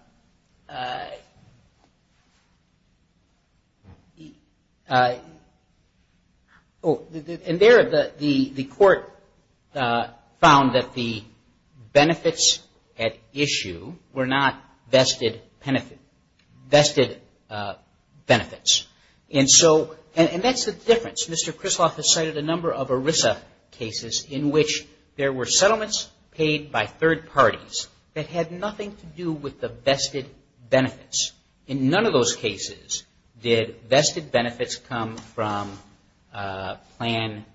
are a number of cases where the anti-alienation clause applies. The Court found that the benefits at issue were not vested benefits. And that's the difference. Mr. Krisloff has cited a number of ERISA cases in which there were settlements paid by third parties that had nothing to do with the vested benefits. In none of those cases did vested benefits come from plan B.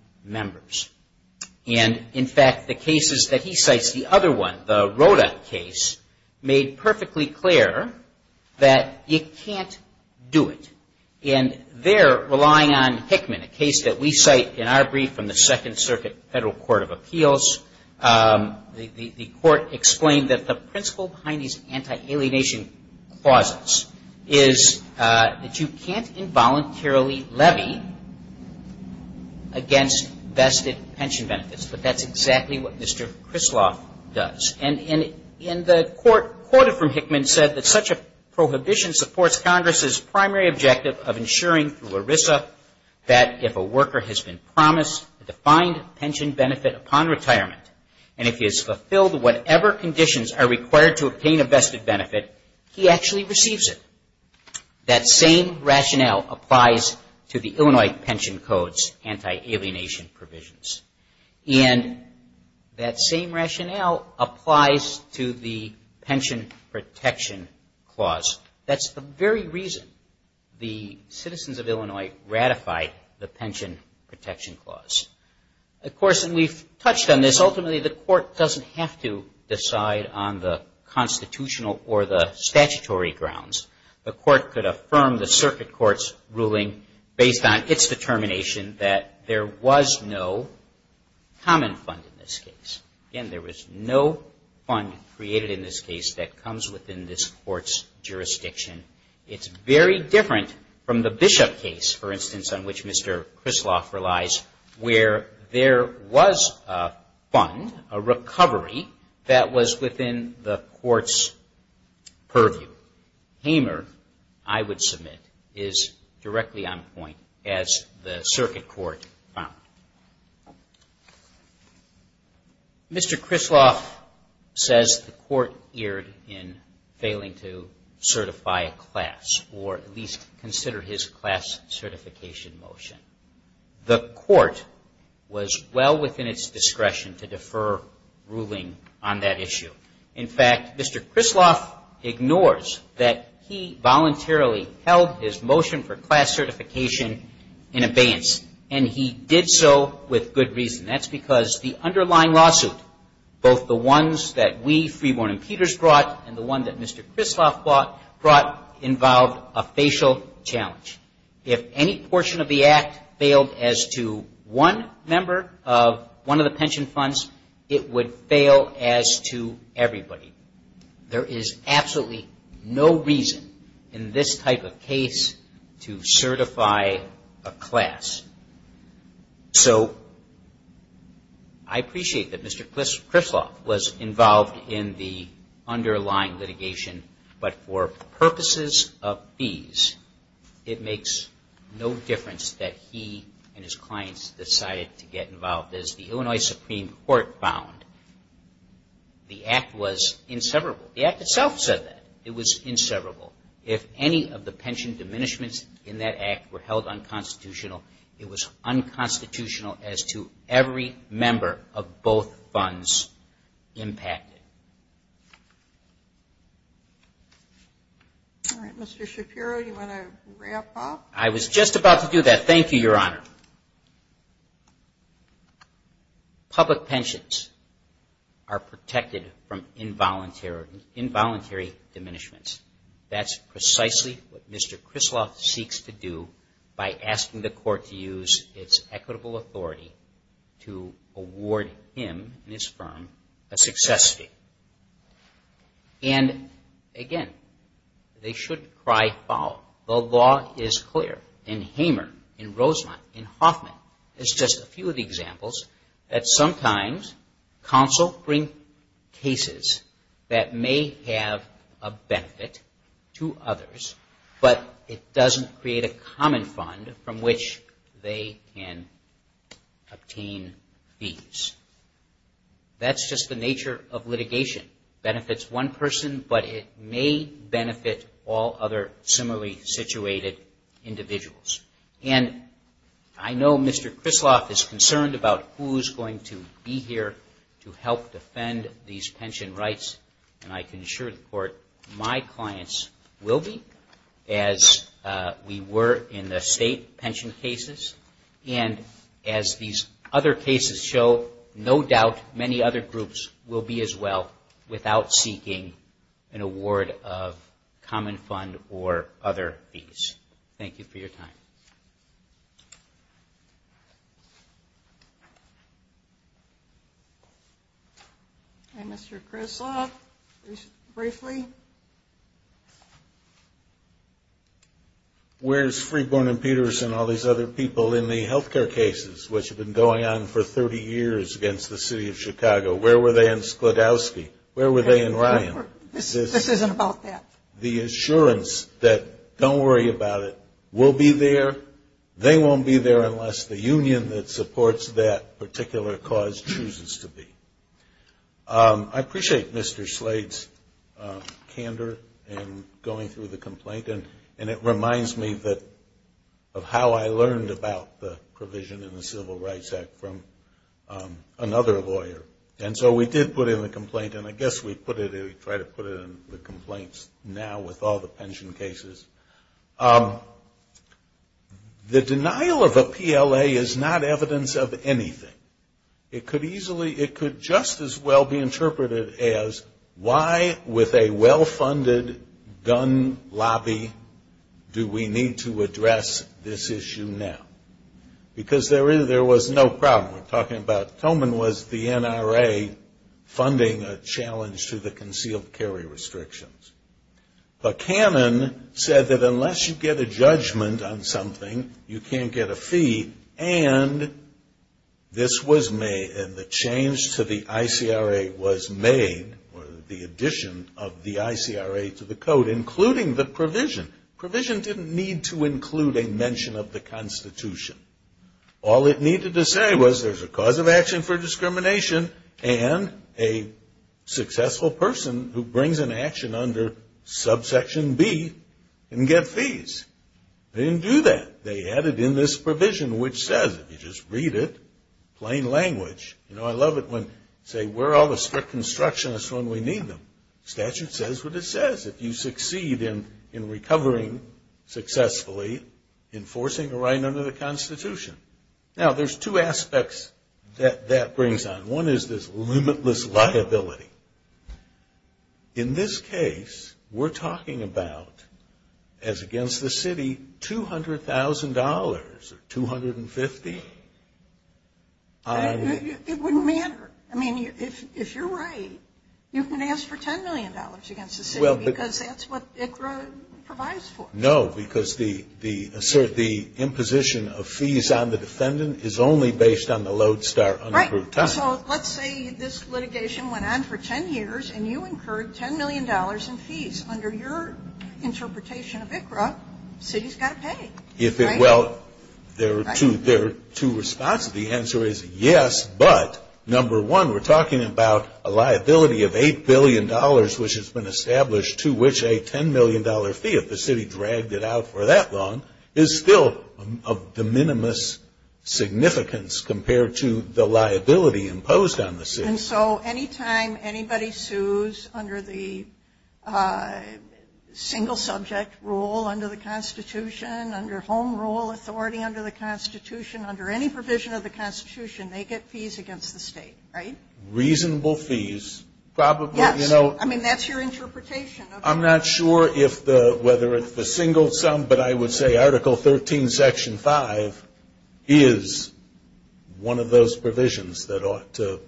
And in fact, the cases that he cites, the other one, the Roda case, made perfectly clear that you can't do it. And there, relying on Hickman, a case that we cite in our brief from the Second Circuit Federal Court of Appeals, the Court explained that the principle behind these anti-alienation clauses is that you can't involuntarily levy against vested pension benefits. But that's exactly what Mr. Krisloff does. And in the court quoted from Hickman said that such a prohibition supports Congress's primary objective of ensuring through ERISA that if a worker has been promised a defined pension benefit upon retirement, and if he has fulfilled whatever conditions are required to obtain a vested benefit, he actually receives it. That same rationale applies to the Illinois Pension Code's anti-alienation clause. And that same rationale applies to the Pension Protection Clause. That's the very reason the citizens of Illinois ratified the Pension Protection Clause. Of course, and we've touched on this, ultimately the court doesn't have to decide on the constitutional or the statutory grounds. The court could affirm the circuit court's ruling based on its own judgment. But there is no common fund in this case. Again, there is no fund created in this case that comes within this court's jurisdiction. It's very different from the Bishop case, for instance, on which Mr. Krisloff relies, where there was a fund, a recovery that was within the court's purview. Hamer, I would submit, is directly on point as the circuit court found. Mr. Krisloff says the court erred in failing to certify a class, or at least consider his class certification motion. The court was well within its discretion to defer ruling on that issue. In fact, Mr. Krisloff ignores that he did so with good reason. That's because the underlying lawsuit, both the ones that we, Freeborn and Peters, brought and the one that Mr. Krisloff brought, involved a facial challenge. If any portion of the Act failed as to one member of one of the pension funds, it would fail as to everybody. There is absolutely no reason in this type of case to certify a class. So I appreciate that Mr. Krisloff was involved in the underlying litigation, but for purposes of ease, it makes no difference that he and his clients decided to get involved. As the Illinois Supreme Court found, the Act was inseverable. The Act itself said that. It was inseverable. If any of the pension diminishments in that Act were held unconstitutional, it was unconstitutional as to every member of both funds impacted. All right, Mr. Shapiro, do you want to wrap up? I was just about to do that. Thank you, Your Honor. Public pensions are protected from involuntary diminishments. That's precisely what Mr. Krisloff seeks to do by asking the Court to use its equitable authority to award him and his firm a success fee. And again, they shouldn't cry foul. The law is clear. In Hamer, in Roselott, in Hoffman, it's just a few of the examples that sometimes counsel bring cases that may have unconstitutional benefits to others, but it doesn't create a common fund from which they can obtain fees. That's just the nature of litigation. It benefits one person, but it may benefit all other similarly situated individuals. And I know Mr. Krisloff is concerned about who's going to be here to help defend these pension rights, and I can assure the Court my clients will be, as we were in the state pension cases. And as these other cases show, no doubt many other groups will be as well without seeking an award of common fund or other fees. Thank you for your time. Okay, Mr. Krisloff, briefly. Where's Freeborn and Peterson and all these other people in the healthcare cases which have been going on for 30 years against the city of Chicago? Where were they in Sklodowsky? Where were they in Ryan? This isn't about that. The assurance that don't worry about it will be there. They won't be there unless the union that supports that particular cause chooses to be. I appreciate Mr. Slade's candor in going through the complaint, and it reminds me of how I learned about the provision in the Civil Rights Act from another lawyer. And so we did put in the complaint, and I guess we put it in the complaints now with all the pension cases. The denial of a PLA is not evidence of anything. It could easily, it could just as well be interpreted as why with a well-funded gun lobby do we need to address this issue now? Because there was no problem. We're talking about funding a challenge to the concealed carry restrictions. But Cannon said that unless you get a judgment on something, you can't get a fee, and this was made, and the change to the ICRA was made, or the addition of the ICRA to the code, including the provision. The provision didn't need to include a mention of the Constitution. All it needed to say was there's a cause of action for discrimination, and a successful person who brings an action under subsection B can get fees. They didn't do that. They added in this provision, which says if you just read it, plain language, you know, I love it when they say we're all the strict constructionists when we need them. Statute says what it says. If you succeed in recovering successfully, enforcing a right under the Constitution. Now, there's two aspects that that brings on. One is this limitless liability. In this case, we're talking about, as against the city, $200,000 or 250. It wouldn't matter. I mean, if you're right, you can ask for $10 million against the city because that's what ICRA provides for. No, because the imposition of fees on the defendant is only based on the lodestar unapproved time. Right. So let's say this litigation went on for 10 years, and you incurred $10 million in fees. Under your interpretation of ICRA, the city's got to pay, right? Well, there are two responses. The answer is yes, but number one, we're talking about a liability of $8 billion, which has been established, to which a $10 million fee, if the city dragged it out for that long, is still of de minimis significance compared to the liability imposed on the city. And so any time anybody sues under the single subject rule, under the Constitution, under home rules, they're going to pay reasonable fees, right? Reasonable fees. Yes. I mean, that's your interpretation. I'm not sure if the, whether it's the single sum, but I would say Article 13, Section 5 is one of those provisions that ought to.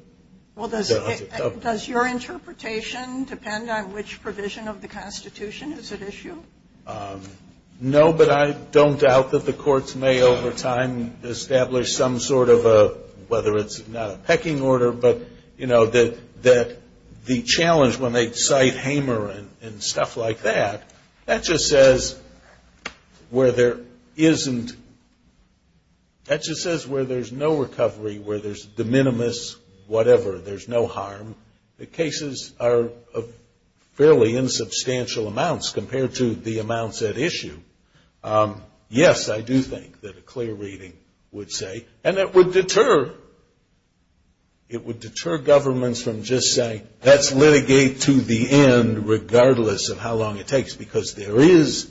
Well, does your interpretation depend on which provision of the Constitution is at issue? No, but I don't doubt that the courts may over time establish some sort of a, whether it's not a pecking order, but, you know, that the challenge when they cite Hamer and stuff like that, that just says where there isn't, that just says where there's no recovery, where there's de minimis whatever, there's no harm. The cases are fairly insubstantial amounts compared to the amounts at issue. Yes, I do think that a clear reading would say, and that would deter, it would deter governments from just saying, let's litigate to the end, regardless of how long it takes. Because there is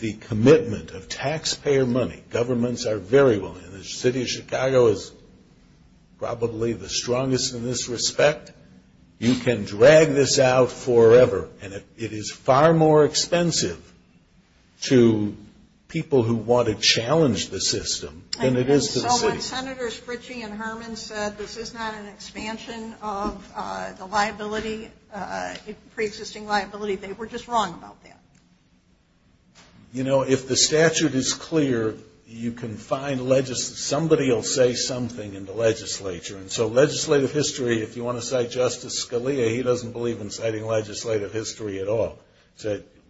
the commitment of taxpayer money. Governments are very willing. And the city of Chicago is probably the strongest in this respect. You can drag this out forever, and it is far more expensive to people who want to challenge the system than it is to the city. So when Senators Fritchie and Herman said this is not an expansion of the liability, pre-existing liability, they were just wrong about that. You know, if the statute is clear, you can find, somebody will say something in the legislature. And so legislative history, if you want to cite Justice Scalia, he doesn't believe in citing legislative history at all.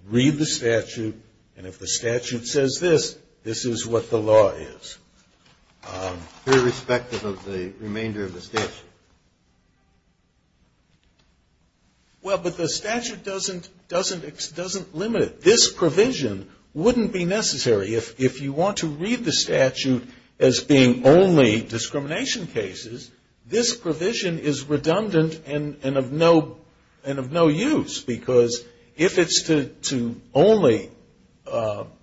Read the statute, and if the statute says this, this is what the law is. Irrespective of the remainder of the statute. Well, but the statute doesn't limit it. This provision wouldn't be necessary. If you want to read the statute as being only discrimination cases, this provision is redundant and of no use. Because if it's to only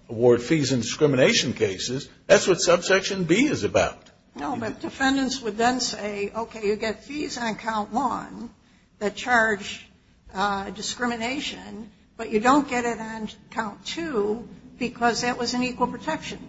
award fees in discrimination cases, that's what subsection B is about. No, but defendants would then say, okay, you get fees on count one that charge discrimination, but you don't get it on count two, because that was an equal protection.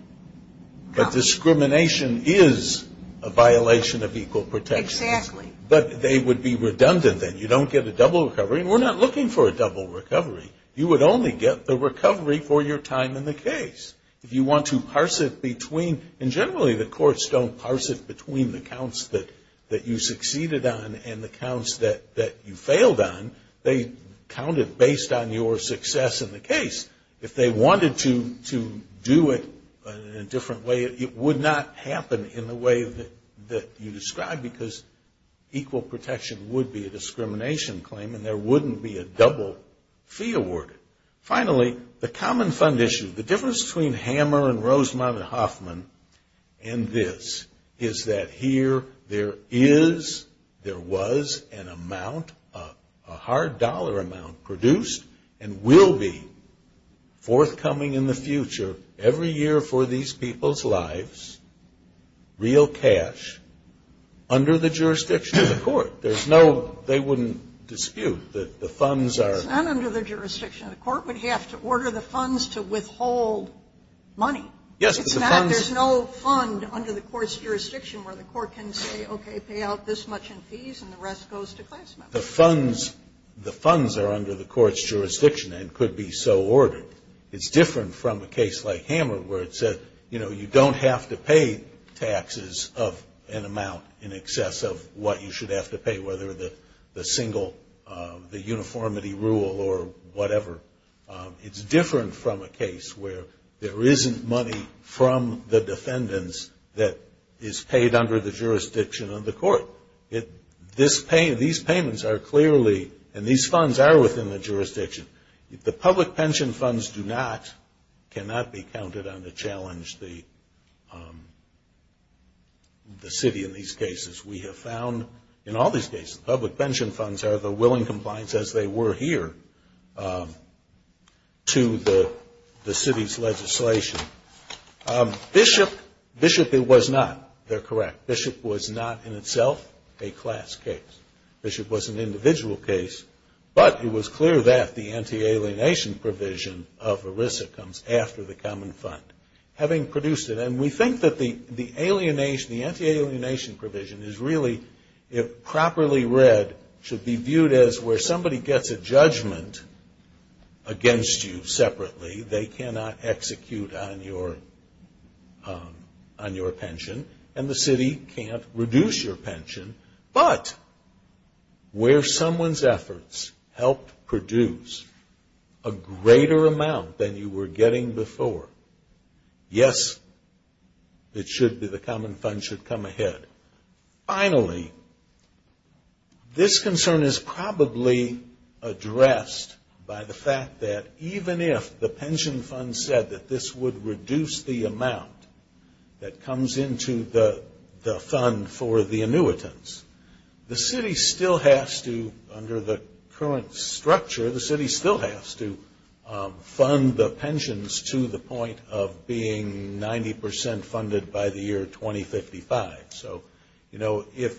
But discrimination is a violation of equal protection. Exactly. But they would be redundant then. You don't get a double recovery, and we're not looking for a double recovery. You would only get the recovery for your time in the case. If you want to parse it between, and generally the courts don't parse it between the counts that you succeeded on and the counts that you failed on. They count it based on your success in the case. If they wanted to do it in a different way, it would not happen in the way that you described, because equal protection would be a discrimination claim, and there wouldn't be a double fee awarded. Finally, the common fund issue, the difference between Hammer and Rosemont and Hoffman and this, is that here there is, there was an amount, a hard dollar amount, produced and will be forthcoming in the future, every year for these people's lives, real cash, under the jurisdiction of the court. There's no, they wouldn't dispute that the funds are. It's not under the jurisdiction. The court would have to order the funds to withhold money. It's not, there's no fund under the court's jurisdiction where the court can say, okay, pay out this much in fees, and the rest goes to class members. The funds, the funds are under the court's jurisdiction and could be so ordered. It's different from a case like Hammer, where it said, you know, you don't have to pay taxes of an amount in excess of what you should have to pay. Whether the single, the uniformity rule or whatever. It's different from a case where there isn't money from the defendants that is paid under the jurisdiction of the court. These payments are clearly, and these funds are within the jurisdiction. The public pension funds do not, cannot be counted on to challenge the city in these cases. We have found in all these cases, public pension funds are the willing compliance, as they were here, to the city's legislation. Bishop, Bishop it was not, they're correct, Bishop was not in itself a class case. Bishop was an individual case, but it was clear that the anti-alienation provision of ERISA comes after the common fund. Having produced it, and we think that the alienation, the anti-alienation provision is really, if properly read, should be viewed as where somebody gets a judgment against you separately. They cannot execute on your, on your pension. And the city can't reduce your pension. But, where someone's efforts helped produce a greater amount than you were getting before. Yes, it should be, the common fund should come ahead. Finally, this concern is probably addressed by the fact that even if the pension fund said that this would reduce the amount that comes into the fund for the annuitants, the city still has to, under the current structure, the city still has to fund the pensions to the point of being able to pay the annuitants. Being 90% funded by the year 2055. So, you know, if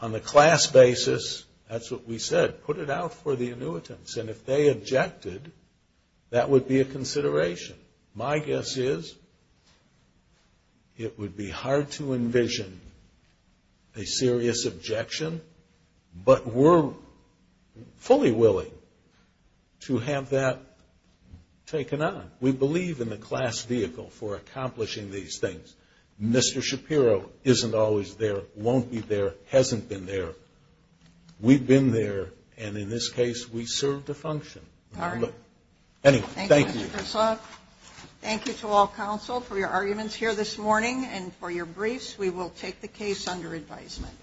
on a class basis, that's what we said, put it out for the annuitants. And if they objected, that would be a consideration. My guess is, it would be hard to envision a serious objection, but we're fully willing to have that taken on. We believe in the class vehicle for accomplishing these things. Mr. Shapiro isn't always there, won't be there, hasn't been there. We've been there, and in this case, we serve to function. Thank you to all counsel for your arguments here this morning and for your briefs. We will take the case under advisement.